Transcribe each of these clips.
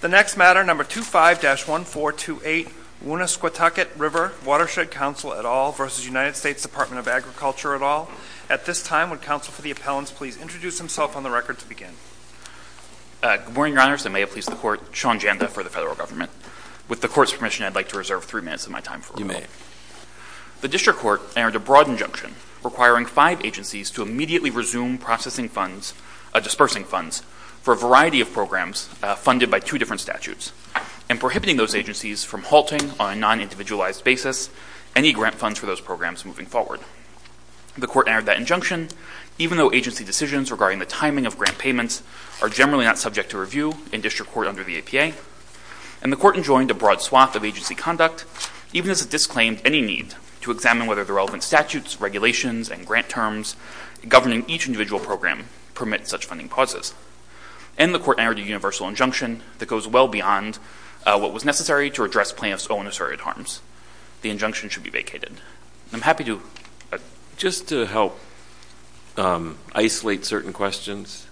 The next matter, number 25-1428, Woonasquatucket River Watershed Council et al. versus United States Department of Agriculture et al. At this time, would counsel for the appellants please introduce himself on the record to begin? Good morning, Your Honors. I may have pleased the court, Sean Janda, for the federal government. With the court's permission, I'd like to reserve three minutes of my time for review. You may. The district court entered a broad injunction requiring five agencies to immediately resume processing funds, dispersing funds, for a variety of programs funded by two different statutes, and prohibiting those agencies from halting on a non-individualized basis any grant funds for those programs moving forward. The court entered that injunction, even though agency decisions regarding the timing of grant payments are generally not subject to review in district court under the APA. And the court enjoined a broad swath of agency conduct, even as it disclaimed any need to examine whether the relevant statutes, regulations, and grant terms governing each individual program permit such funding pauses. And the court entered a universal injunction that goes well beyond what was necessary to address plaintiff's own asserted harms. The injunction should be vacated. I'm happy to. Just to help isolate certain questions,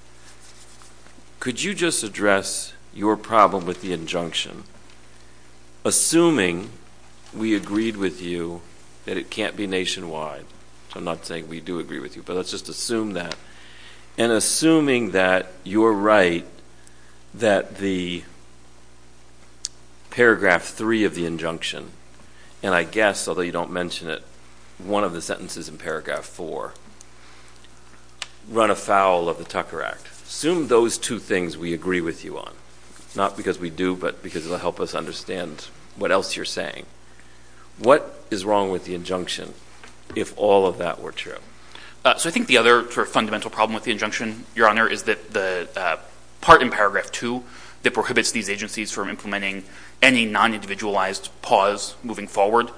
could you just address your problem with the injunction, assuming we agreed with you that it can't be nationwide? I'm not saying we do agree with you, but let's just assume that. And assuming that you're right that the paragraph three of the injunction, and I guess, although you don't mention it, one of the sentences in paragraph four, run afoul of the Tucker Act. Assume those two things we agree with you on, not because we do, but because it will help us understand what else you're saying. What is wrong with the injunction if all of that were true? So I think the other fundamental problem with the injunction, Your Honor, is that the part in paragraph two that prohibits these agencies from implementing any non-individualized pause moving forward,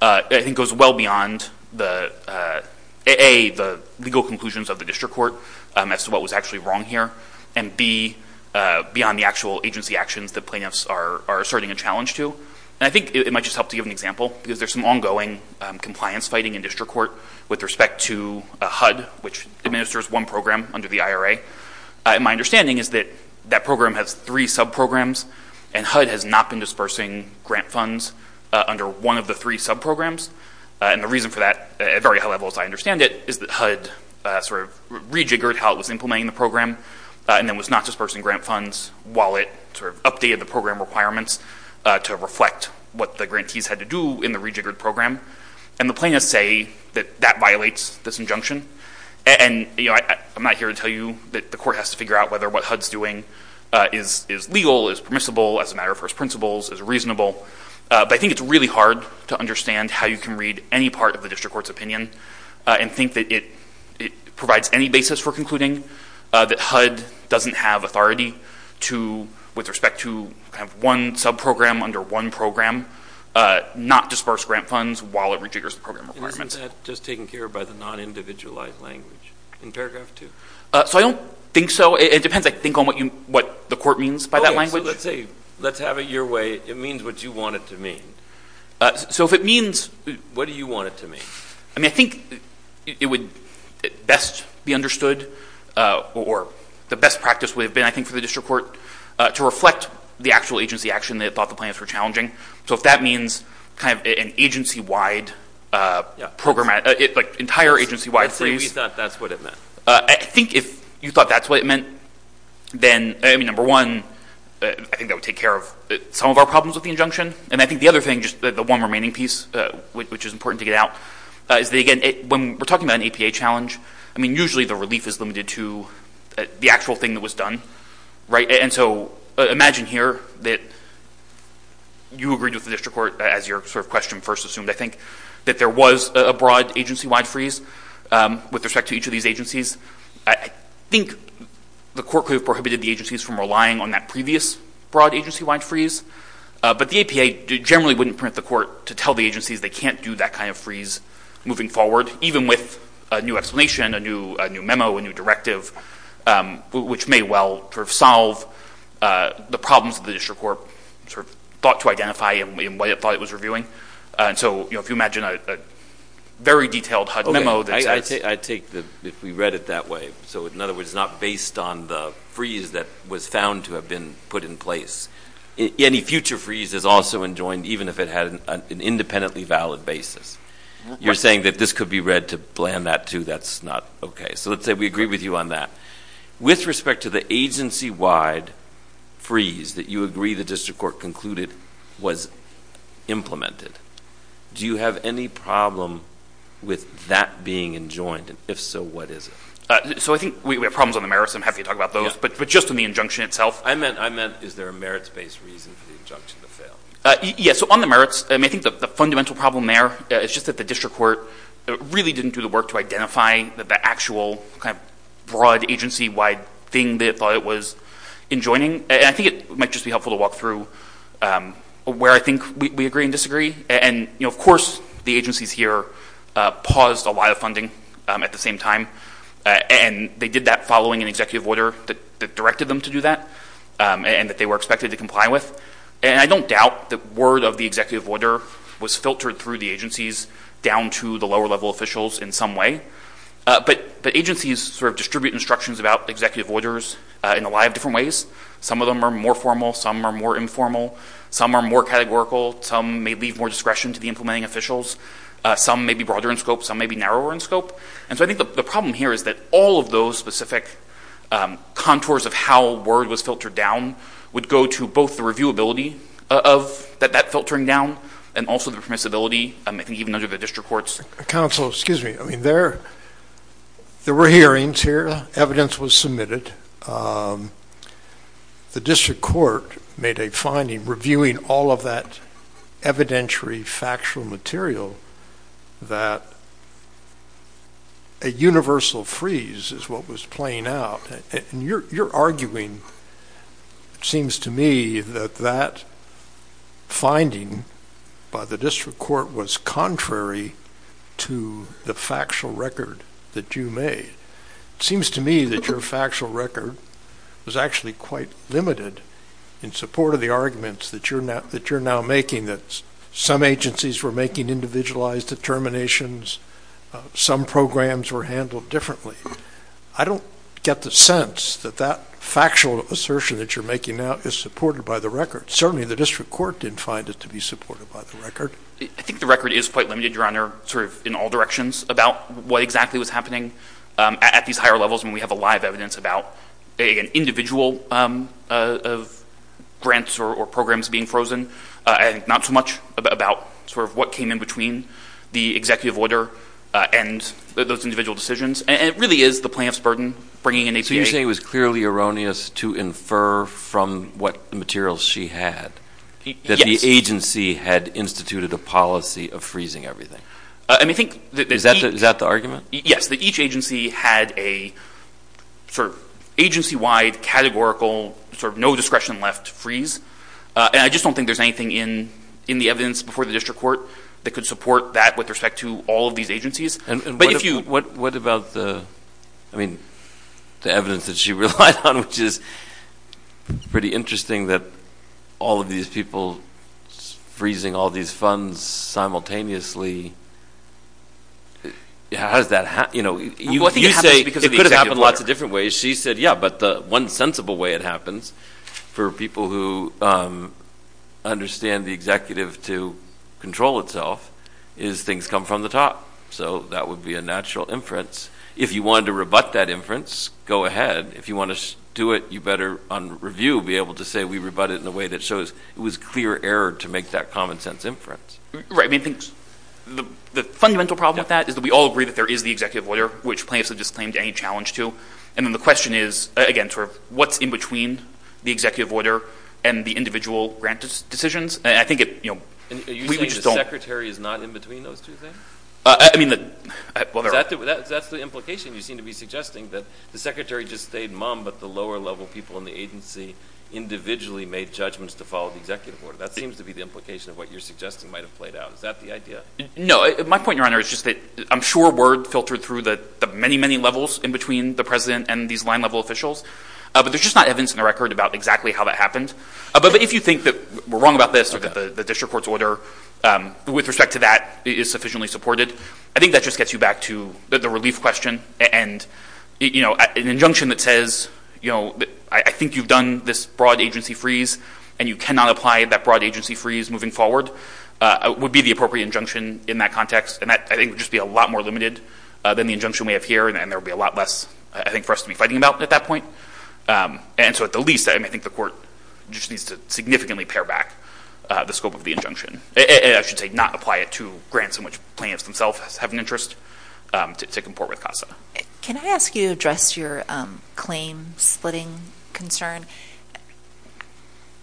I think, goes well beyond the A, the legal conclusions of the district court as to what was actually wrong here, and B, beyond the actual agency actions that plaintiffs are asserting a challenge to. And I think it might just help to give an example, because there's some ongoing compliance fighting in district court with respect to HUD, which administers one program under the IRA. My understanding is that that program has three sub-programs, and HUD has not been dispersing grant funds under one of the three sub-programs. And the reason for that, at very high levels I understand it, is that HUD sort of rejiggered how it was implementing the program, and then was not dispersing grant funds while it sort of updated the program requirements to reflect what the grantees had to do in the rejiggered program. And the plaintiffs say that that violates this injunction. And I'm not here to tell you that the court has to figure out whether what HUD's doing is legal, is permissible, as a matter of first principles, is reasonable. But I think it's really hard to understand how you can read any part of the district court's opinion and think that it provides any basis for concluding that HUD doesn't have authority with respect to one sub-program under one program, not disperse grant funds while it rejiggers the program requirements. Isn't that just taken care of by the non-individualized language in paragraph two? So I don't think so. It depends, I think, on what the court means by that language. OK, so let's say, let's have it your way. It means what you want it to mean. So if it means what do you want it to mean? I mean, I think it would best be understood, or the best practice would have been, I think, for the district court to reflect the actual agency action they thought the plaintiffs were challenging. So if that means kind of an agency-wide program, like entire agency-wide freeze. Let's say we thought that's what it meant. I think if you thought that's what it meant, then, I mean, number one, I think that would take care of some of our problems with the injunction. And I think the other thing, just the one remaining piece, which is important to get out, is that, again, when we're talking about an APA challenge, I mean, usually the relief is limited to the actual thing that was done, right? And so imagine here that you agreed with the district court, as your question first assumed, I think, that there was a broad agency-wide freeze with respect to each of these agencies. I think the court could have prohibited the agencies from relying on that previous broad agency-wide freeze. But the APA generally wouldn't permit the court to tell the agencies they can't do that kind of freeze moving forward, even with a new explanation, a new memo, a new directive, which may well sort of solve the problems that the district court sort of thought to identify in the way it thought it was reviewing. So if you imagine a very detailed HUD memo that says- I take that we read it that way. So in other words, it's not based on the freeze that was found to have been put in place. Any future freeze is also enjoined, even if it had an independently valid basis. You're saying that this could be read to plan that, too. That's not OK. So let's say we agree with you on that. With respect to the agency-wide freeze that you agree the district court concluded was implemented, do you have any problem with that being enjoined? If so, what is it? So I think we have problems on the merits. I'm happy to talk about those. But just on the injunction itself, I meant, is there a merits-based reason for the injunction to fail? Yes, so on the merits, I think the fundamental problem there is just that the district court really didn't do the work to identify the actual broad agency-wide thing they thought it was enjoining. And I think it might just be helpful to walk through where I think we agree and disagree. And of course, the agencies here paused a lot of funding at the same time. And they did that following an executive order that directed them to do that and that they were expected to comply with. And I don't doubt that word of the executive order was filtered through the agencies down to the lower-level officials in some way. But the agencies sort of distribute instructions about executive orders in a lot of different ways. Some of them are more formal. Some are more informal. Some are more categorical. Some may leave more discretion to the implementing officials. Some may be broader in scope. Some may be narrower in scope. And so I think the problem here is that all of those specific contours of how word was filtered down would go to both the reviewability of that filtering down and also the permissibility, even under the district courts. Counsel, excuse me. I mean, there were hearings here. Evidence was submitted. The district court made a finding reviewing all of that evidentiary factual material that a universal freeze is what was playing out. And you're arguing, it seems to me, that that finding by the district court was contrary to the factual record that you made. It seems to me that your factual record was actually quite limited in support of the arguments that you're now making, that some agencies were making individualized determinations. Some programs were handled differently. I don't get the sense that that factual assertion that you're now is supported by the record. Certainly, the district court didn't find it to be supported by the record. I think the record is quite limited, Your Honor, in all directions about what exactly was happening at these higher levels. I mean, we have a lot of evidence about an individual of grants or programs being frozen. I think not so much about what came in between the executive order and those individual decisions. And it really is the plaintiff's burden bringing an APA. So you're saying it was clearly erroneous to infer from what materials she had that the agency had instituted a policy of freezing everything. And I think that each agency had a agency-wide, categorical, no-discretion-left freeze. And I just don't think there's anything in the evidence before the district court that could support that with respect to all of these agencies. What about the evidence that she relied on, which is pretty interesting that all of these people freezing all these funds simultaneously. You say it could have happened lots of different ways. She said, yeah, but the one sensible way it happens for people who understand the executive to control itself is things come from the top. So that would be a natural inference. If you wanted to rebut that inference, go ahead. If you want to do it, you better, on review, be able to say we rebut it in a way that shows it was clear error to make that common-sense inference. Right, I mean, the fundamental problem with that is that we all agree that there is the executive order, which plaintiffs have just claimed any challenge to. And then the question is, again, what's in between the executive order and the individual grant decisions? And I think it, you know, we just don't. Are you saying the secretary is not in between those two things? I mean, well, there are. That's the implication you seem to be suggesting, that the secretary just stayed mum, but the lower-level people in the agency individually made judgments to follow the executive order. That seems to be the implication of what you're suggesting might have played out. Is that the idea? No, my point, Your Honor, is just that I'm sure word filtered through the many, many levels in between the president and these line-level officials. But there's just not evidence in the record about exactly how that happened. But if you think that we're wrong about this or that the district court's order with respect to that is sufficiently supported, I think that just gets you back to the relief question and an injunction that says, you know, I think you've done this broad agency freeze and you cannot apply that broad agency freeze moving forward would be the appropriate injunction in that context. And that, I think, would just be a lot more limited than the injunction we have here. And there would be a lot less, I think, for us to be fighting about at that point. And so at the least, I mean, I think the court just needs to significantly pare back the scope of the injunction. And I should say not apply it to grants in which plaintiffs themselves have an interest to comport with CASA. Can I ask you to address your claim splitting concern?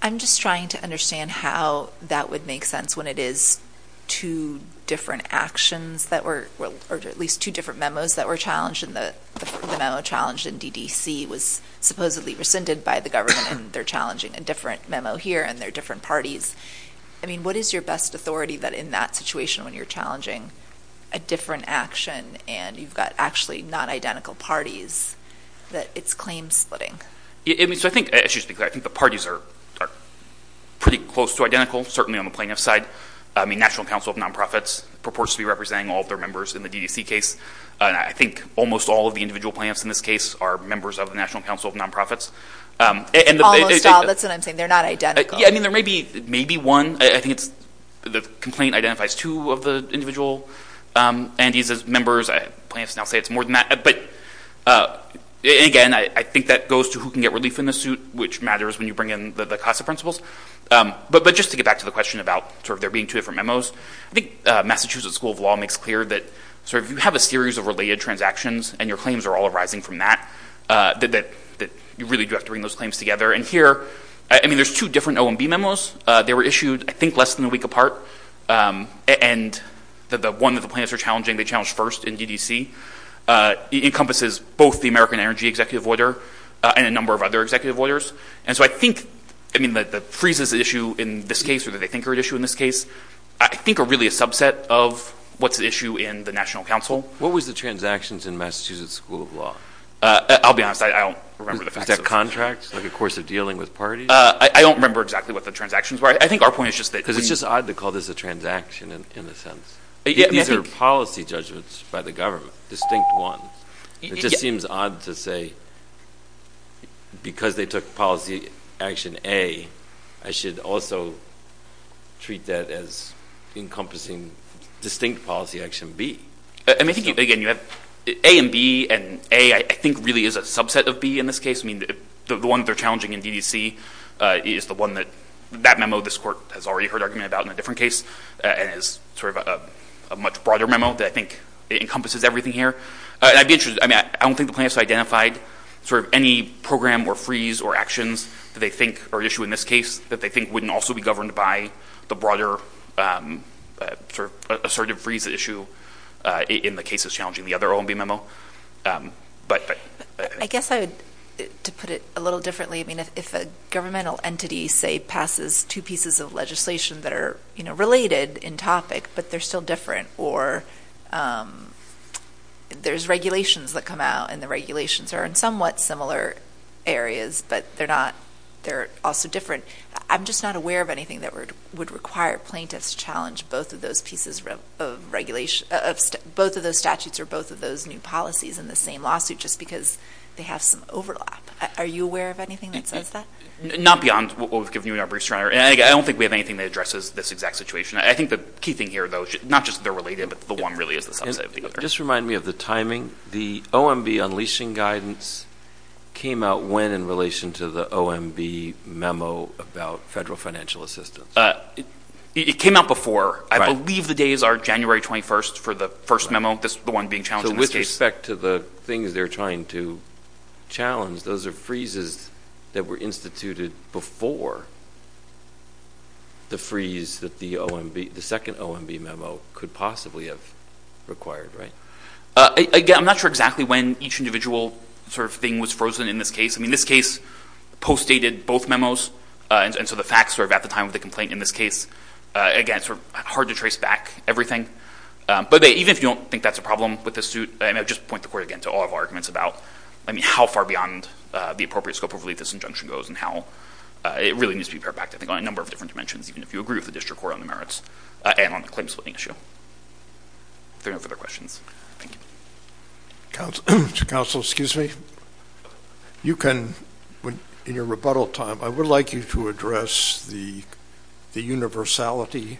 I'm just trying to understand how that would make sense when it is two different actions that were, or at least two different memos that were challenged and the memo challenged in DDC was supposedly rescinded by the government and they're challenging a different memo here and they're different parties. I mean, what is your best authority that in that situation when you're challenging a different action and you've got actually non-identical parties that it's claim splitting? Yeah, I mean, so I think, excuse me, I think the parties are pretty close to identical, certainly on the plaintiff side. I mean, National Council of Nonprofits purports to be representing all of their members in the DDC case. And I think almost all of the individual plaintiffs in this case are members of the National Council of Nonprofits. Almost all, that's what I'm saying. They're not identical. Yeah, I mean, there may be one. I think it's the complaint identifies two of the individual and he says members, plaintiffs now say it's more than that. But again, I think that goes to who can get relief in the suit, which matters when you bring in the CASA principles. But just to get back to the question about sort of there being two different memos, I think Massachusetts School of Law makes clear that sort of you have a series of related transactions and your claims are all arising from that, that you really do have to bring those claims together. And here, I mean, there's two different OMB memos. They were issued, I think, less than a week apart. And the one that the plaintiffs are challenging, they challenged first in DDC, encompasses both the American Energy Executive Order and a number of other executive orders. And so I think, I mean, the freezes issue in this case or that they think are at issue in this case, I think are really a subset of what's at issue in the National Council. What was the transactions in Massachusetts School of Law? I'll be honest, I don't remember the facts. Is that contract, like a course of dealing with parties? I don't remember exactly what the transactions were. I think our point is just that- Because it's just odd to call this a transaction in a sense. These are policy judgments by the government, distinct ones. It just seems odd to say, because they took policy action A, I should also treat that as encompassing distinct policy action B. And I think, again, you have A and B, and A, I think, really is a subset of B in this case. The one that they're challenging in DDC is the one that, that memo, this court has already heard argument about in a different case, and is sort of a much broader memo that I think encompasses everything here. And I'd be interested, I mean, I don't think the plaintiffs identified sort of any program or freeze or actions that they think are at issue in this case that they think wouldn't also be governed by the broader sort of assertive freeze issue in the cases challenging the other OMB memo. But, but... I guess I would, to put it a little differently, I mean, if a governmental entity, say, passes two pieces of legislation that are related in topic, but they're still different, or there's regulations that come out, and the regulations are in somewhat similar areas, but they're not, they're also different. I'm just not aware of anything that would require plaintiffs to challenge both of those pieces of regulation, both of those statutes, or both of those new policies in the same lawsuit, just because they have some overlap. Are you aware of anything that says that? Not beyond what we've given you in our briefs, I don't think we have anything that addresses this exact situation. I think the key thing here, though, not just that they're related, but the one really is the subset of the other. Just remind me of the timing. The OMB unleashing guidance came out when in relation to the OMB memo about federal financial assistance? It came out before. I believe the days are January 21st for the first memo, the one being challenged in this case. So with respect to the things they're trying to challenge, those are freezes that were instituted before the freeze that the second OMB memo could possibly have required, right? Again, I'm not sure exactly when each individual sort of thing was frozen in this case. I mean, this case postdated both memos, and so the facts were at the time of the complaint in this case. Again, it's sort of hard to trace back everything, but even if you don't think that's a problem with the suit, I mean, I would just point the court again to all of our arguments about, I mean, how far beyond the appropriate scope of relief this injunction goes, and how it really needs to be prepared back to, I think, on a number of different dimensions, even if you agree with the district court on the merits, and on the claim-splitting issue. If there are no further questions, thank you. Counsel, excuse me. You can, in your rebuttal time, I would like you to address the universality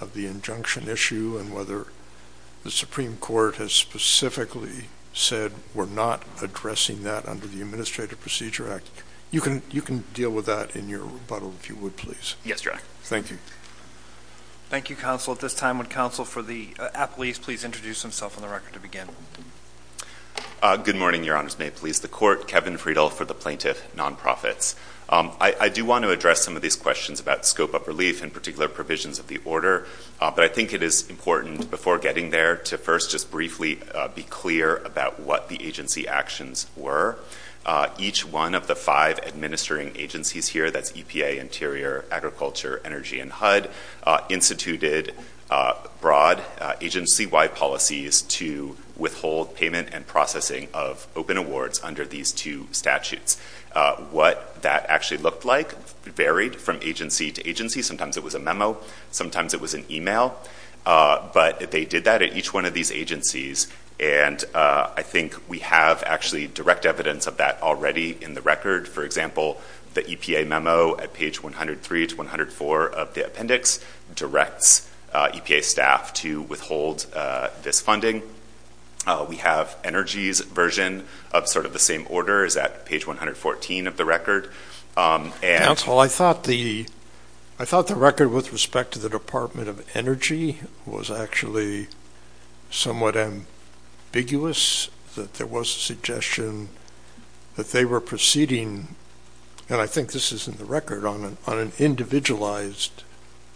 of the injunction issue, and whether the Supreme Court has specifically said we're not addressing that under the Administrative Procedure Act. You can deal with that in your rebuttal, if you would, please. Yes, Your Honor. Thank you. Thank you, Counsel. At this time, would Counsel for the applees please introduce himself on the record to begin? Good morning, Your Honors. May it please the Court? Kevin Friedel for the Plaintiff Nonprofits. I do want to address some of these questions about scope of relief, and particular provisions of the order, but I think it is important, before getting there, to first just briefly be clear about what the agency actions were. Each one of the five administering agencies here, that's EPA, Interior, Agriculture, Energy, and HUD, instituted broad agency-wide policies to withhold payment and processing of open awards under these two statutes. What that actually looked like varied from agency to agency. Sometimes it was a memo, sometimes it was an email, but they did that at each one of these agencies, and I think we have actually direct evidence of that already in the record. For example, the EPA memo at page 103 to 104 of the appendix directs EPA staff to withhold this funding. We have Energy's version of sort of the same order is at page 114 of the record. Counsel, I thought the record, with respect to the Department of Energy, was actually somewhat ambiguous, that there was a suggestion that they were proceeding, and I think this is in the record, on an individualized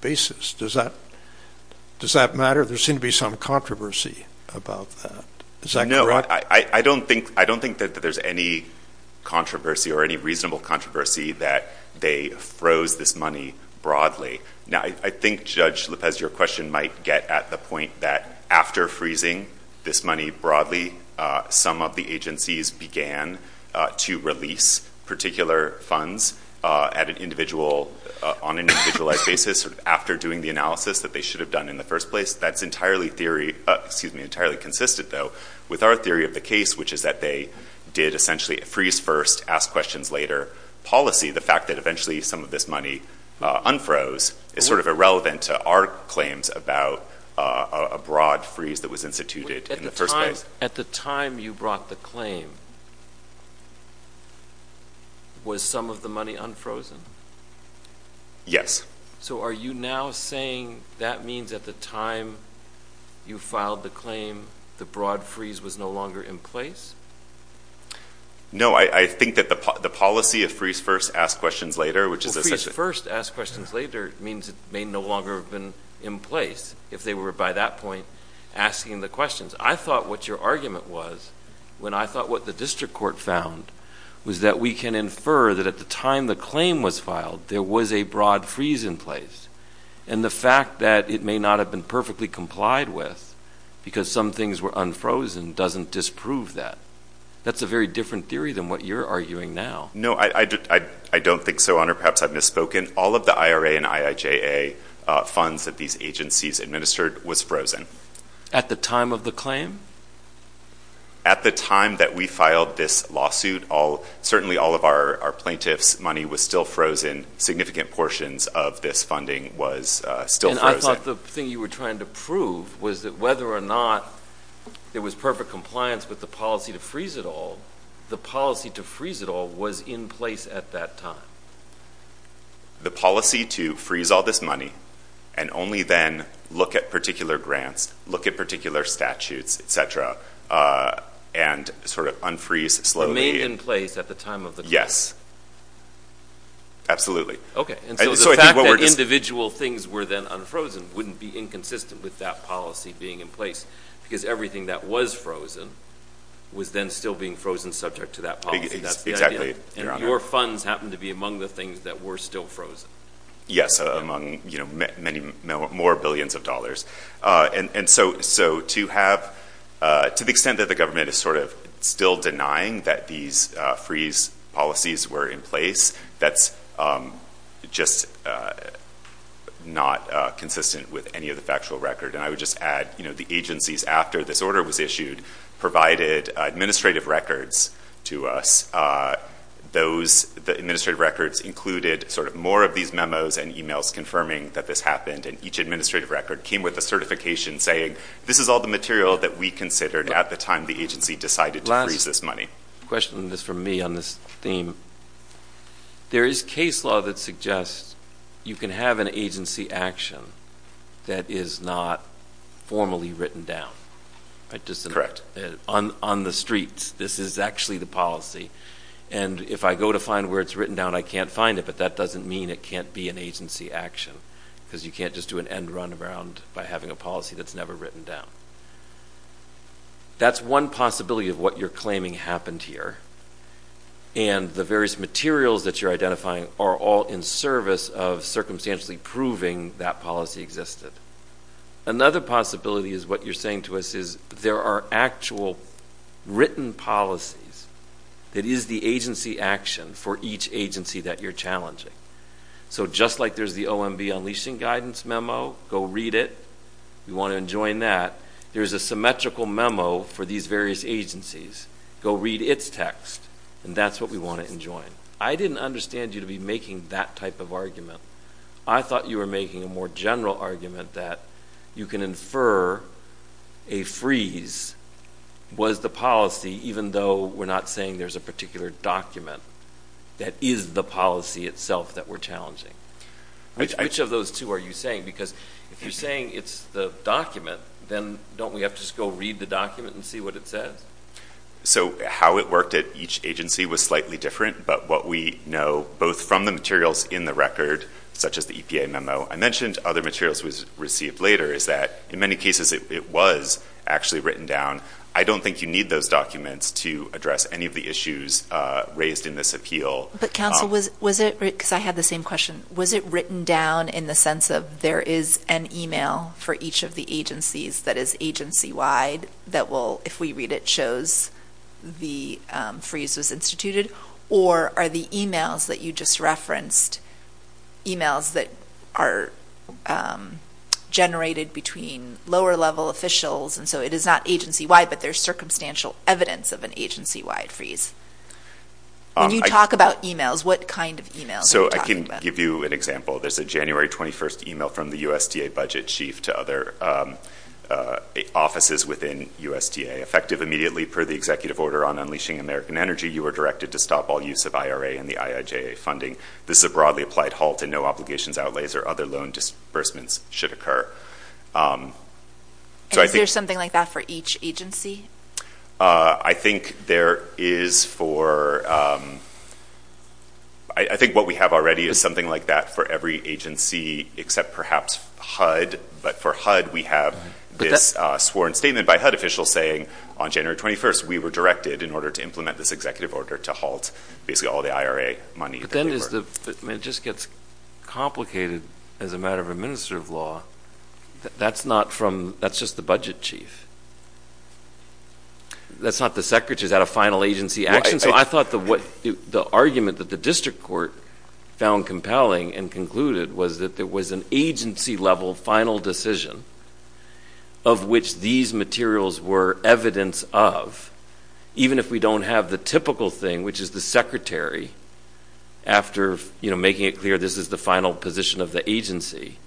basis. Does that matter? There seemed to be some controversy about that. Is that correct? No, I don't think that there's any controversy or any reasonable controversy that they froze this money broadly. Now, I think, Judge Lopez, your question might get at the point that after freezing this money broadly, some of the agencies began to release particular funds at an individual, on an individualized basis, after doing the analysis that they should have done in the first place. That's entirely theory, excuse me, entirely consistent, though, with our theory of the case, which is that they did essentially a freeze first, ask questions later policy. The fact that eventually some of this money unfroze is sort of irrelevant to our claims about a broad freeze that was instituted in the first place. At the time you brought the claim, was some of the money unfrozen? Yes. So are you now saying that means at the time you filed the claim, the broad freeze was no longer in place? No, I think that the policy of freeze first, ask questions later, which is essentially- Well, freeze first, ask questions later means it may no longer have been in place if they were, by that point, asking the questions. I thought what your argument was when I thought what the district court found was that we can infer that at the time the claim was filed, there was a broad freeze in place. And the fact that it may not have been perfectly complied with because some things were unfrozen doesn't disprove that. That's a very different theory than what you're arguing now. No, I don't think so, Honor. Perhaps I've misspoken. All of the IRA and IIJA funds that these agencies administered was frozen. At the time of the claim? At the time that we filed this lawsuit, certainly all of our plaintiffs' money was still frozen, significant portions of this funding was still frozen. And I thought the thing you were trying to prove was that whether or not there was perfect compliance with the policy to freeze it all, the policy to freeze it all was in place at that time. The policy to freeze all this money and only then look at particular grants, look at particular statutes, et cetera, and sort of unfreeze slowly- It may have been in place at the time of the claim. Yes. Yes. Absolutely. Okay, and so the fact that individual things were then unfrozen wouldn't be inconsistent with that policy being in place because everything that was frozen was then still being frozen subject to that policy. Exactly, Your Honor. And your funds happened to be among the things that were still frozen. Yes, among many more billions of dollars. And so to have, to the extent that the government is sort of still denying that these freeze policies were in place, that's just not consistent with any of the factual record. And I would just add, the agencies, after this order was issued, provided administrative records to us. The administrative records included sort of more of these memos and emails confirming that this happened. And each administrative record came with a certification saying, this is all the material that we considered at the time the agency decided to freeze this money. Question is for me on this theme. There is case law that suggests you can have an agency action that is not formally written down. I just, on the streets, this is actually the policy. And if I go to find where it's written down, I can't find it, but that doesn't mean it can't be an agency action because you can't just do an end run around by having a policy that's never written down. That's one possibility of what you're claiming happened here, and the various materials that you're identifying are all in service of circumstantially proving that policy existed. Another possibility is what you're saying to us is there are actual written policies that is the agency action for each agency that you're challenging. So just like there's the OMB Unleashing Guidance memo, go read it, you want to enjoy that, there's a symmetrical memo for these various agencies. Go read its text, and that's what we want to enjoy. I didn't understand you to be making that type of argument. I thought you were making a more general argument that you can infer a freeze was the policy, even though we're not saying there's a particular document that is the policy itself that we're challenging. Which of those two are you saying? Because if you're saying it's the document, then don't we have to just go read the document and see what it says? So how it worked at each agency was slightly different, but what we know, both from the materials in the record, such as the EPA memo, I mentioned other materials was received later, is that in many cases it was actually written down. I don't think you need those documents to address any of the issues raised in this appeal. But counsel, was it, because I had the same question, was it written down in the sense of there is an email for each of the agencies that is agency-wide that will, if we read it, shows the freeze was instituted? Or are the emails that you just referenced emails that are generated between lower-level officials, and so it is not agency-wide, but there's circumstantial evidence of an agency-wide freeze? When you talk about emails, what kind of emails are you talking about? So I can give you an example. There's a January 21st email from the USDA budget chief to other offices within USDA. Effective immediately per the executive order on unleashing American Energy, you are directed to stop all use of IRA and the IIJA funding. This is a broadly applied halt, and no obligations, outlays, or other loan disbursements should occur. And is there something like that for each agency? I think there is for, I think what we have already is something like that for every agency, except perhaps HUD, but for HUD, we have this sworn statement by HUD officials saying, on January 21st, we were directed in order to implement this executive order to halt basically all the IRA money that they were. But then it just gets complicated as a matter of administrative law. That's not from, that's just the budget chief. That's not the secretary, is that a final agency action? So I thought the argument that the district court found compelling and concluded was that there was an agency-level final decision of which these materials were evidence of, even if we don't have the typical thing, which is the secretary, after making it clear this is the final position of the agency,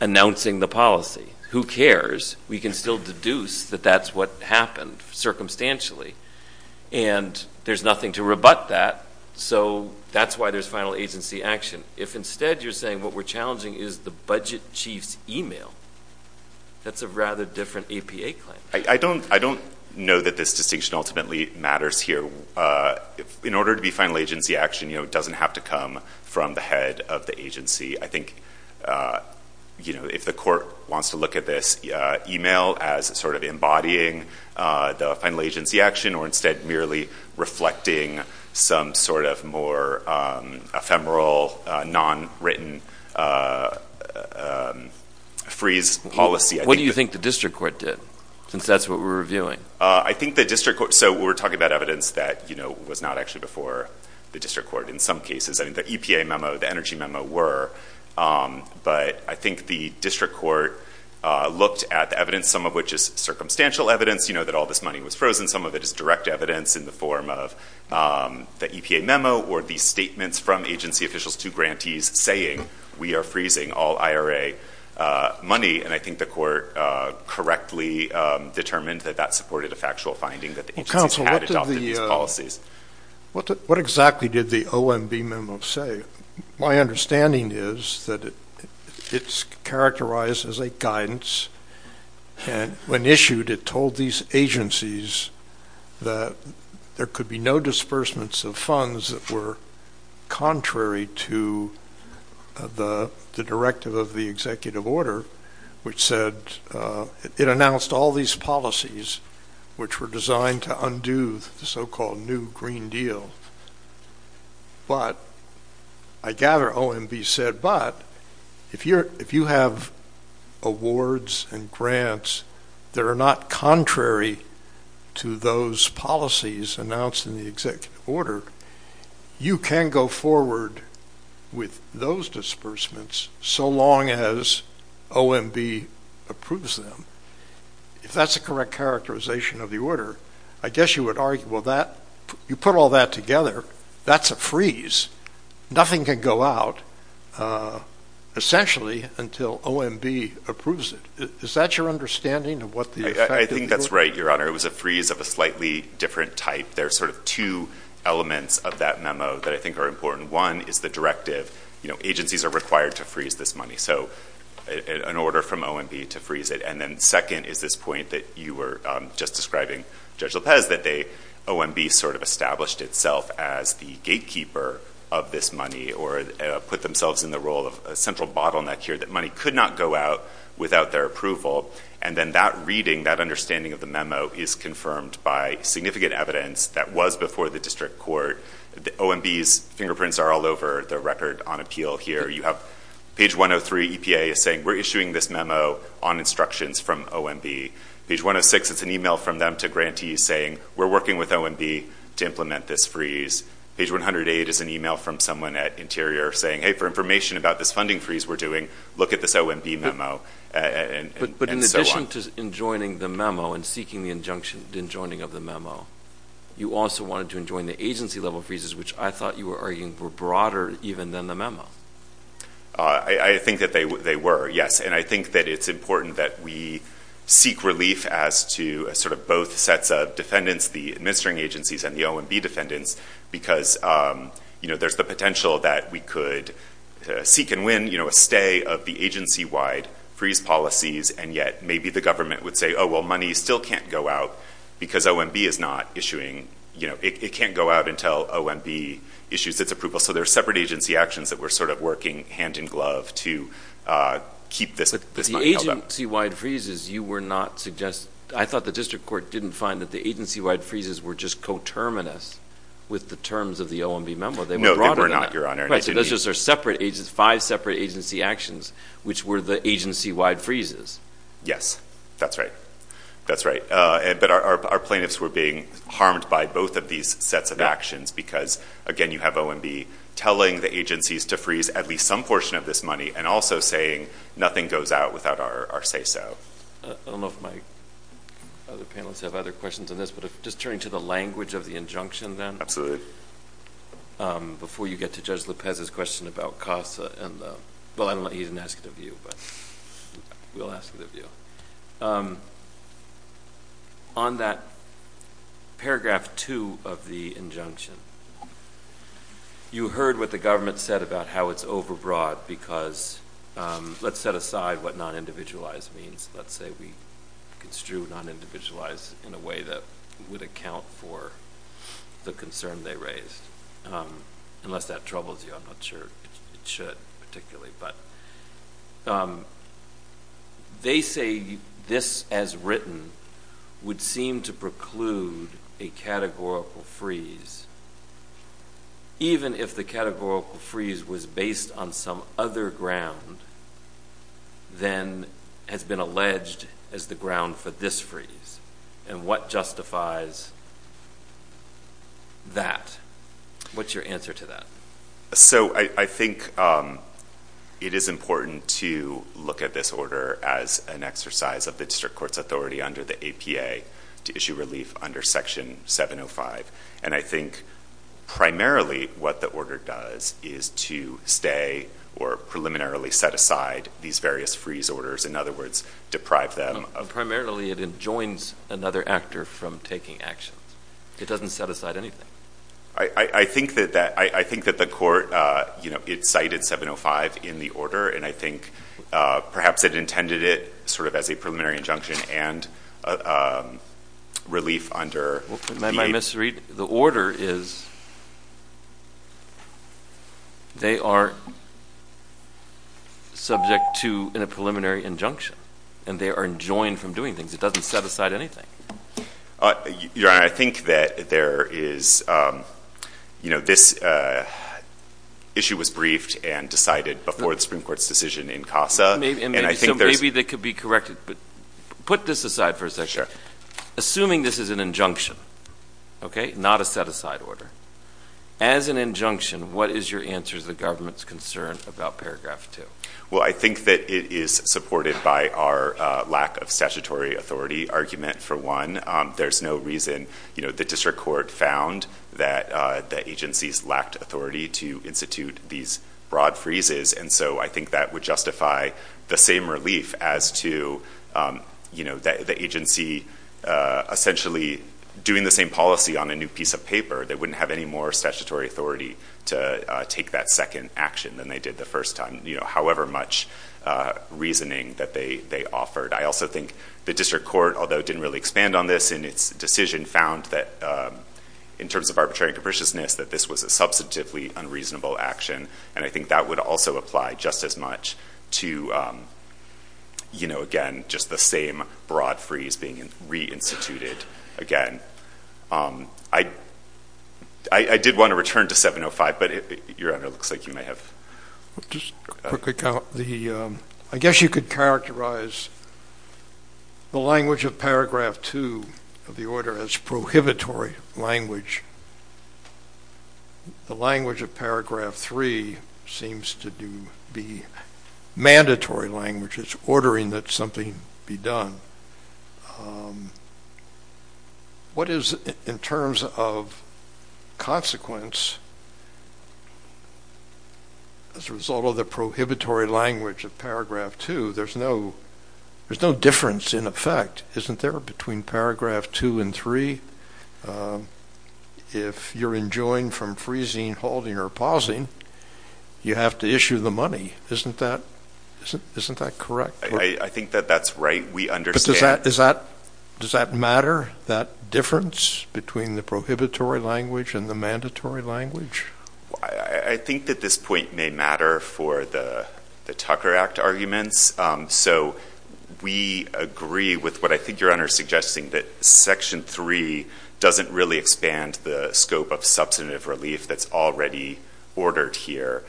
announcing the policy. Who cares? We can still deduce that that's what happened circumstantially, and there's nothing to rebut that, so that's why there's final agency action. If instead you're saying what we're challenging is the budget chief's email, that's a rather different APA claim. I don't know that this distinction ultimately matters here. In order to be final agency action, it doesn't have to come from the head of the agency. I think if the court wants to look at this email as sort of embodying the final agency action, or instead merely reflecting some sort of more ephemeral, non-written freeze policy, I think that... What do you think the district court did, since that's what we're reviewing? I think the district court, so we're talking about evidence that was not actually before the district court in some cases. I mean, the EPA memo, the energy memo were, but I think the district court looked at the evidence, some of which is circumstantial evidence, that all this money was frozen. Some of it is direct evidence in the form of the EPA memo, or the statements from agency officials to grantees saying we are freezing all IRA money. And I think the court correctly determined that that supported a factual finding that the agencies had adopted these policies. What exactly did the OMB memo say? My understanding is that it's characterized as a guidance. And when issued, it told these agencies that there could be no disbursements of funds that were contrary to the directive of the executive order, which said, it announced all these policies, which were designed to undo the so-called New Green Deal. But I gather OMB said, but if you have awards and grants that are not contrary to those policies announced in the executive order, you can go forward with those disbursements so long as OMB approves them. If that's the correct characterization of the order, I guess you would argue, well, you put all that together, that's a freeze. Nothing can go out, essentially, until OMB approves it. Is that your understanding of what the effect is? I think that's right, Your Honor. It was a freeze of a slightly different type. There are sort of two elements of that memo that I think are important. One is the directive. Agencies are required to freeze this money. So an order from OMB to freeze it. And then second is this point that you were just describing, Judge Lopez, that OMB sort of established itself as the gatekeeper of this money, or put themselves in the role of a central bottleneck here, that money could not go out without their approval. And then that reading, that understanding of the memo, is confirmed by significant evidence that was before the district court. The OMB's fingerprints are all over the record on appeal here. You have page 103, EPA is saying, we're issuing this memo on instructions from OMB. Page 106, it's an email from them to grantees saying, we're working with OMB to implement this freeze. Page 108 is an email from someone at Interior saying, hey, for information about this funding freeze we're doing, look at this OMB memo, and so on. But in addition to enjoining the memo and seeking the enjoining of the memo, you also wanted to enjoin the agency-level freezes, which I thought you were arguing were broader even than the memo. I think that they were, yes. And I think that it's important that we seek relief as to sort of both sets of defendants, the administering agencies and the OMB defendants, because there's the potential that we could seek and win, you know, a stay of the agency-wide freeze policies, and yet maybe the government would say, oh, well, money still can't go out because OMB is not issuing, you know, it can't go out until OMB issues its approval. So there are separate agency actions that we're sort of working hand-in-glove to keep this money held up. But the agency-wide freezes, you were not suggesting, I thought the district court didn't find that the agency-wide freezes were just coterminous with the terms of the OMB memo. They were broader than that. No, they were not, Your Honor. Right, so those are just separate, five separate agency actions, which were the agency-wide freezes. Yes, that's right, that's right. But our plaintiffs were being harmed by both of these sets of actions, because, again, you have OMB telling the agencies to freeze at least some portion of this money, and also saying nothing goes out without our say-so. I don't know if my other panelists have other questions on this, but just turning to the language of the injunction then. Absolutely. Before you get to Judge Lopez's question about costs, and, well, I don't know, he didn't ask it of you, but we'll ask it of you. On that paragraph two of the injunction, you heard what the government said about how it's overbroad, because, let's set aside what non-individualized means. Let's say we construe non-individualized in a way that would account for the concern they raised. Unless that troubles you, I'm not sure it should, particularly. But they say this, as written, would seem to preclude a categorical freeze, even if the categorical freeze was based on some other ground than has been alleged as the ground for this freeze. And what justifies that? What's your answer to that? So I think it is important to look at this order as an exercise of the district court's authority under the APA to issue relief under section 705. And I think primarily what the order does is to stay or preliminarily set aside these various freeze orders. In other words, deprive them of- Primarily it enjoins another actor from taking action. It doesn't set aside anything. I think that the court, you know, it cited 705 in the order, and I think perhaps it intended it sort of as a preliminary injunction and a relief under the- May I misread? The order is they are subject to a preliminary injunction, and they are enjoined from doing things. It doesn't set aside anything. Your Honor, I think that there is, you know, this issue was briefed and decided before the Supreme Court's decision in CASA. And I think there's- Maybe they could be corrected, but put this aside for a second. Assuming this is an injunction, okay? Not a set aside order. As an injunction, what is your answer to the government's concern about paragraph two? Well, I think that it is supported by our lack of statutory authority argument for one, there's no reason. You know, the district court found that the agencies lacked authority to institute these broad freezes. And so I think that would justify the same relief as to, you know, the agency essentially doing the same policy on a new piece of paper. They wouldn't have any more statutory authority to take that second action than they did the first time. You know, however much reasoning that they offered. I also think the district court, although it didn't really expand on this in its decision, found that in terms of arbitrary and capriciousness, that this was a substantively unreasonable action. And I think that would also apply just as much to, you know, again, just the same broad freeze being reinstituted again. I did want to return to 705, but Your Honor, it looks like you may have- Just a quick account. The, I guess you could characterize the language of paragraph two of the order as prohibitory language. The language of paragraph three seems to be mandatory language. It's ordering that something be done. What is, in terms of consequence as a result of the prohibitory language of paragraph two, there's no difference in effect, isn't there, between paragraph two and three? If you're enjoined from freezing, holding, or pausing, you have to issue the money. Isn't that correct? I think that that's right. We understand- But does that matter, that difference between the prohibitory language and the mandatory language? I think that this point may matter for the Tucker Act arguments. So we agree with what I think Your Honor's suggesting, that section three doesn't really expand the scope of substantive relief that's already ordered here.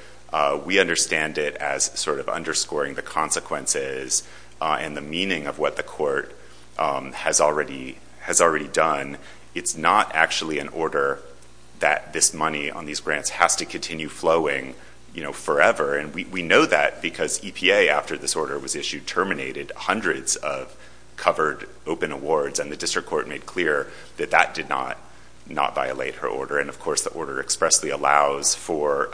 We understand it as sort of underscoring the consequences and the meaning of what the court has already done. It's not actually an order that this money on these grants has to continue flowing forever. And we know that because EPA, after this order was issued, terminated hundreds of covered open awards, and the district court made clear that that did not violate her order. And of course, the order expressly allows for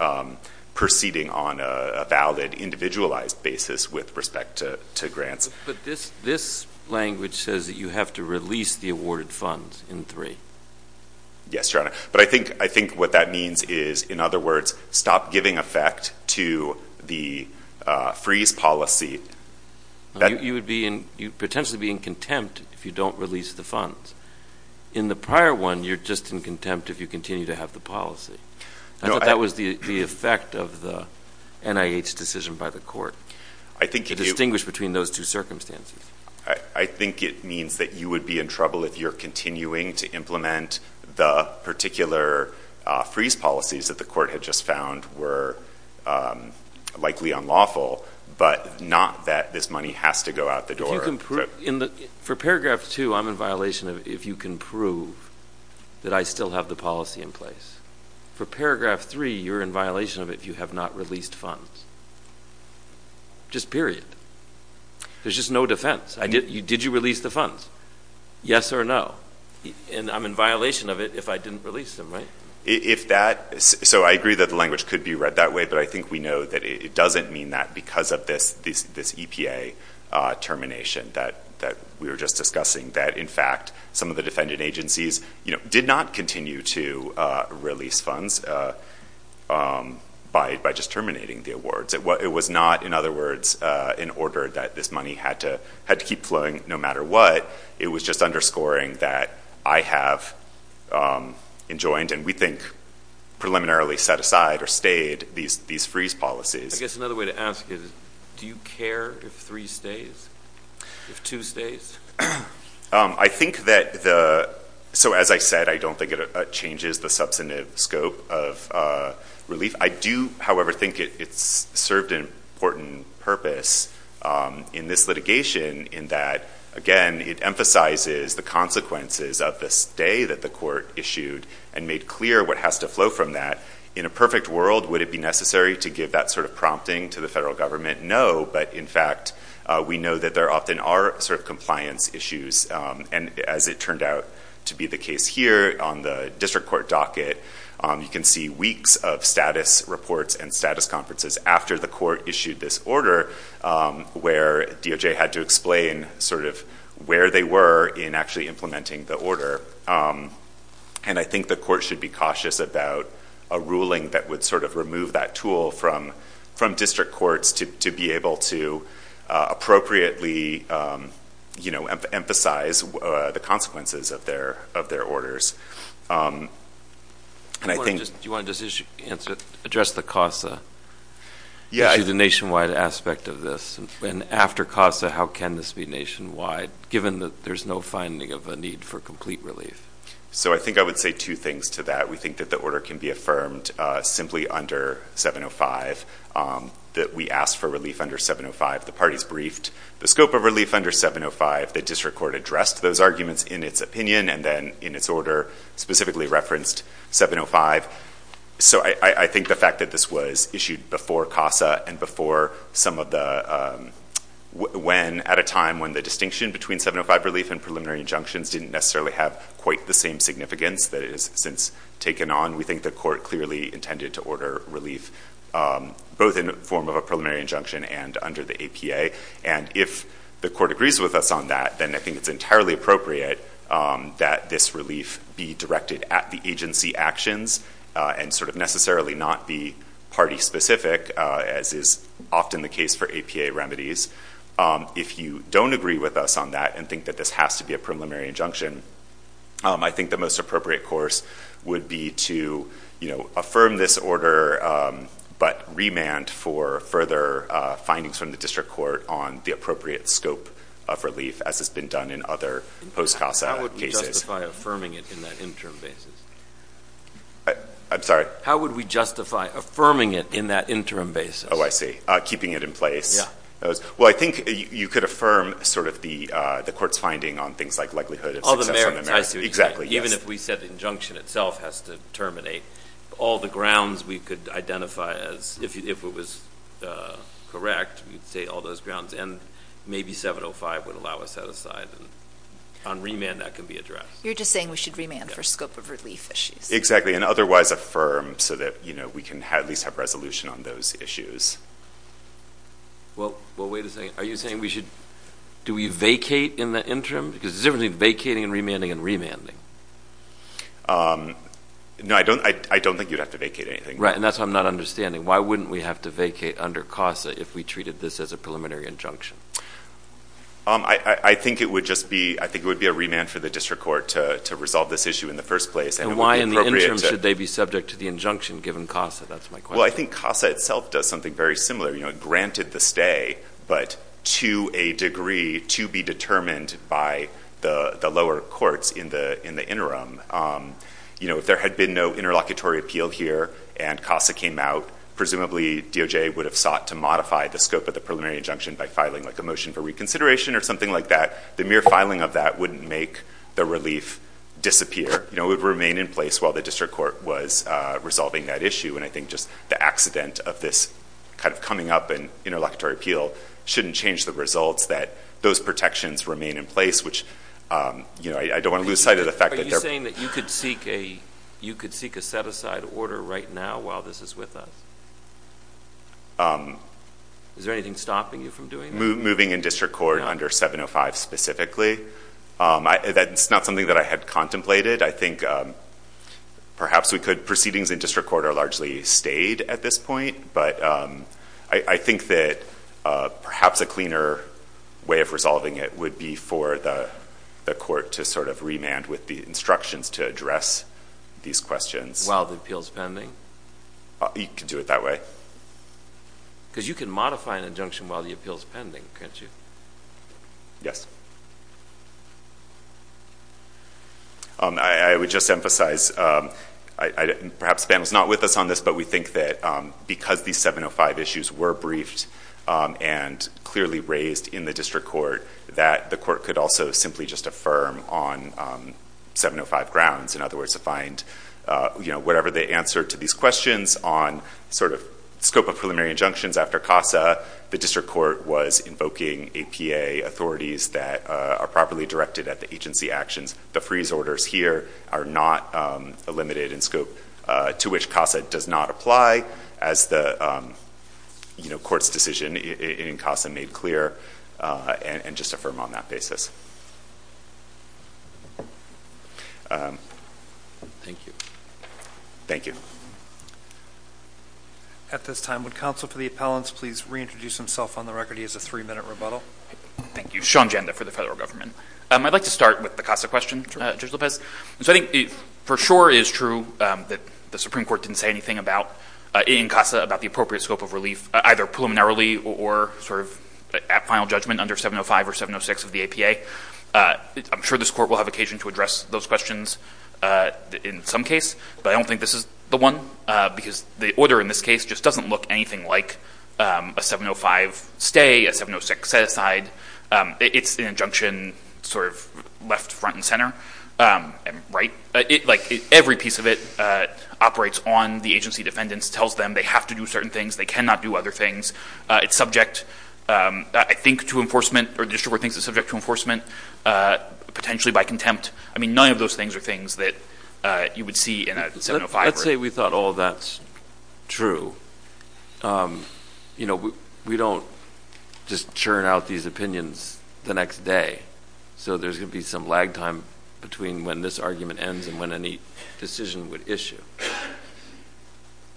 proceeding on a valid, individualized basis with respect to grants. But this language says that you have to release the awarded funds in three. Yes, Your Honor. But I think what that means is, in other words, stop giving effect to the freeze policy. You would potentially be in contempt if you don't release the funds. In the prior one, you're just in contempt if you continue to have the policy. I thought that was the effect of the NIH decision by the court, to distinguish between those two circumstances. I think it means that you would be in trouble if you're continuing to implement the particular freeze policies that the court had just found were likely unlawful, but not that this money has to go out the door. If you can prove, for paragraph two, I'm in violation of if you can prove that I still have the policy in place. For paragraph three, you're in violation of it if you have not released funds. Just period. There's just no defense. Did you release the funds? Yes or no? And I'm in violation of it if I didn't release them, right? If that, so I agree that the language could be read that way, but I think we know that it doesn't mean that because of this EPA termination that we were just discussing, that in fact, some of the defendant agencies did not continue to release funds by just terminating the awards. It was not, in other words, in order that this money had to keep flowing no matter what. It was just underscoring that I have enjoined, and we think preliminarily set aside or stayed these freeze policies. I guess another way to ask is do you care if three stays, if two stays? I think that the, so as I said, I don't think it changes the substantive scope of relief. I do, however, think it's served an important purpose in this litigation in that, again, it emphasizes the consequences of the stay that the court issued and made clear what has to flow from that. In a perfect world, would it be necessary to give that sort of prompting to the federal government? No, but in fact, we know that there often are sort of compliance issues, and as it turned out to be the case here on the district court docket, you can see weeks of status reports and status conferences after the court issued this order where DOJ had to explain sort of where they were in actually implementing the order. And I think the court should be cautious about a ruling that would sort of remove that tool from district courts to be able to appropriately emphasize the consequences of their orders. And I think- Do you want to just address the CASA? Yeah. Issue the nationwide aspect of this, and after CASA, how can this be nationwide given that there's no finding of a need for complete relief? So I think I would say two things to that. We think that the order can be affirmed simply under 705, that we asked for relief under 705. The parties briefed the scope of relief under 705. The district court addressed those arguments in its opinion and then in its order specifically referenced 705. So I think the fact that this was issued before CASA and before some of the, when at a time when the distinction between 705 relief and preliminary injunctions didn't necessarily have quite the same significance that it has since taken on, we think the court clearly intended to order relief both in the form of a preliminary injunction and under the APA. And if the court agrees with us on that, then I think it's entirely appropriate that this relief be directed at the agency actions and sort of necessarily not be party specific as is often the case for APA remedies. If you don't agree with us on that and think that this has to be a preliminary injunction, I think the most appropriate course would be to affirm this order, but remand for further findings from the district court on the appropriate scope of relief as has been done in other post-CASA cases. How would we justify affirming it in that interim basis? I'm sorry? How would we justify affirming it in that interim basis? Oh, I see, keeping it in place. Well, I think you could affirm sort of the court's finding on things like likelihood of success on the merits. Exactly, yes. Even if we said the injunction itself has to terminate, all the grounds we could identify as, if it was correct, we'd say all those grounds and maybe 705 would allow us that aside. On remand, that can be addressed. You're just saying we should remand for scope of relief issues. Exactly, and otherwise affirm so that we can at least have resolution on those issues. Well, wait a second. Are you saying we should, do we vacate in the interim? Because there's a difference between vacating and remanding and remanding. No, I don't think you'd have to vacate anything. Right, and that's why I'm not understanding. Why wouldn't we have to vacate under CASA if we treated this as a preliminary injunction? I think it would just be, I think it would be a remand for the district court to resolve this issue in the first place. And why in the interim should they be subject to the injunction given CASA? That's my question. Well, I think CASA itself does something very similar. You know, it granted the stay, but to a degree to be determined by the lower courts in the interim. You know, if there had been no interlocutory appeal here and CASA came out, presumably DOJ would have sought to modify the scope of the preliminary injunction by filing like a motion for reconsideration or something like that. The mere filing of that wouldn't make the relief disappear. You know, it would remain in place while the district court was resolving that issue. And I think just the accident of this kind of coming up in interlocutory appeal shouldn't change the results that those protections remain in place, which, you know, I don't want to lose sight of the fact that they're- Are you saying that you could seek a, you could seek a set aside order right now while this is with us? Is there anything stopping you from doing that? Moving in district court under 705 specifically. That's not something that I had contemplated. I think perhaps we could, proceedings in district court are largely stayed at this point, but I think that perhaps a cleaner way of resolving it would be for the court to sort of remand with the instructions to address these questions. While the appeal's pending? You could do it that way. Because you can modify an injunction while the appeal's pending, can't you? Yes. I would just emphasize, perhaps Ben was not with us on this, but we think that because these 705 issues were briefed and clearly raised in the district court that the court could also simply just affirm on 705 grounds. In other words, to find whatever the answer to these questions on sort of scope of preliminary injunctions after CASA, the district court was invoking APA authorities that are properly directed at the agency actions. The freeze orders here are not limited in scope to which CASA does not apply as the court's decision in CASA made clear, and just affirm on that basis. Thank you. Thank you. At this time, would counsel for the appellants please reintroduce himself on the record? He has a three minute rebuttal. Thank you, Sean Janda for the federal government. I'd like to start with the CASA question, Judge Lopez. So I think for sure it is true that the Supreme Court didn't say anything in CASA about the appropriate scope of relief, either preliminarily or sort of at final judgment under 705 or 706 of the APA. I'm sure this court will have occasion to address those questions in some case, but I don't think this is the one because the order in this case just doesn't look anything like a 705 stay, a 706 set aside. It's an injunction sort of left, front and center, right? Like every piece of it operates on the agency defendants, tells them they have to do certain things, they cannot do other things. It's subject, I think to enforcement or district court thinks it's subject to enforcement, potentially by contempt. I mean, none of those things are things that you would see in a 705. Let's say we thought all of that's true. We don't just churn out these opinions the next day. So there's gonna be some lag time between when this argument ends and when any decision would issue.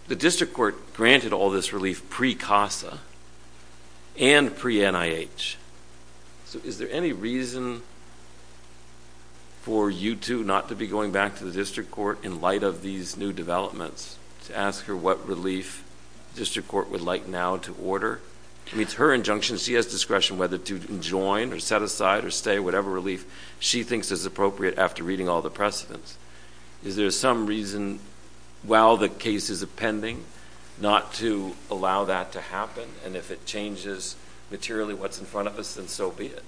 The district court granted all this relief pre-CASA and pre-NIH. So is there any reason for you two not to be going back to the district court in light of these new developments to ask her what relief district court would like now to order? I mean, it's her injunction. She has discretion whether to join or set aside or stay, whatever relief she thinks is appropriate after reading all the precedents. Is there some reason while the case is a pending not to allow that to happen? And if it changes materially what's in front of us, then so be it.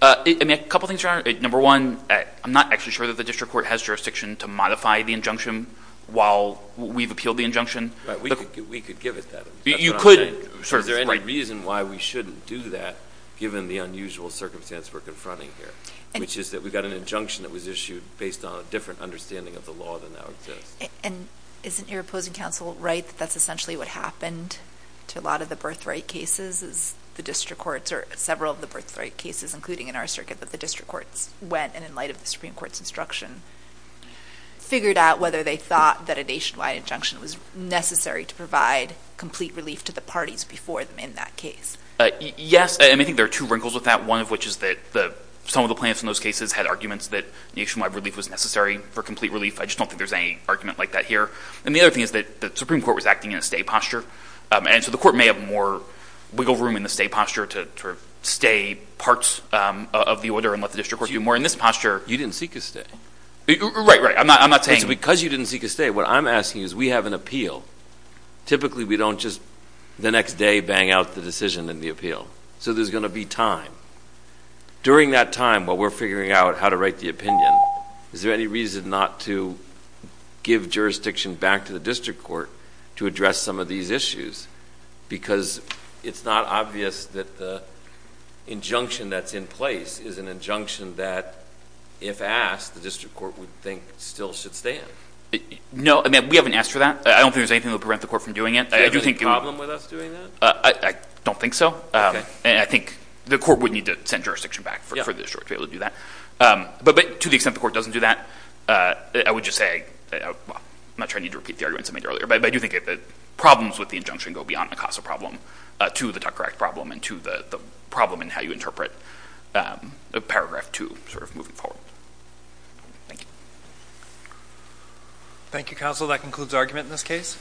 I mean, a couple of things, Your Honor. Number one, I'm not actually sure that the district court has jurisdiction to modify the injunction while we've appealed the injunction. But we could give it that. You could. Is there any reason why we shouldn't do that given the unusual circumstance we're confronting here, which is that we've got an injunction that was issued based on a different understanding of the law than now exists. And isn't your opposing counsel right that that's essentially what happened to a lot of the birthright cases as the district courts or several of the birthright cases, including in our circuit that the district courts went and in light of the Supreme Court's instruction, figured out whether they thought that a nationwide injunction was necessary to provide complete relief to the parties before them in that case? Yes, and I think there are two wrinkles with that. One of which is that some of the plaintiffs in those cases had arguments that nationwide relief was necessary for complete relief. I just don't think there's any argument like that here. And the other thing is that the Supreme Court was acting in a stay posture. And so the court may have more wiggle room in the stay posture to stay parts of the order and let the district court do more in this posture. You didn't seek a stay. Right, right. I'm not saying. It's because you didn't seek a stay. What I'm asking is we have an appeal. Typically we don't just the next day bang out the decision in the appeal. So there's gonna be time. During that time while we're figuring out how to write the opinion, is there any reason not to give jurisdiction back to the district court to address some of these issues? Because it's not obvious that the injunction that's in place is an injunction that if asked, the district court would think still should stand. No, I mean, we haven't asked for that. I don't think there's anything that would prevent the court from doing it. Do you have any problem with us doing that? I don't think so. And I think the court would need to send jurisdiction back for the district to be able to do that. But to the extent the court doesn't do that, I would just say, I'm not trying to repeat the arguments I made earlier, but I do think that the problems with the injunction go beyond the CASA problem to the Tucker Act problem and to the problem in how you interpret the paragraph two sort of moving forward. Thank you. Thank you, counsel. That concludes argument in this case.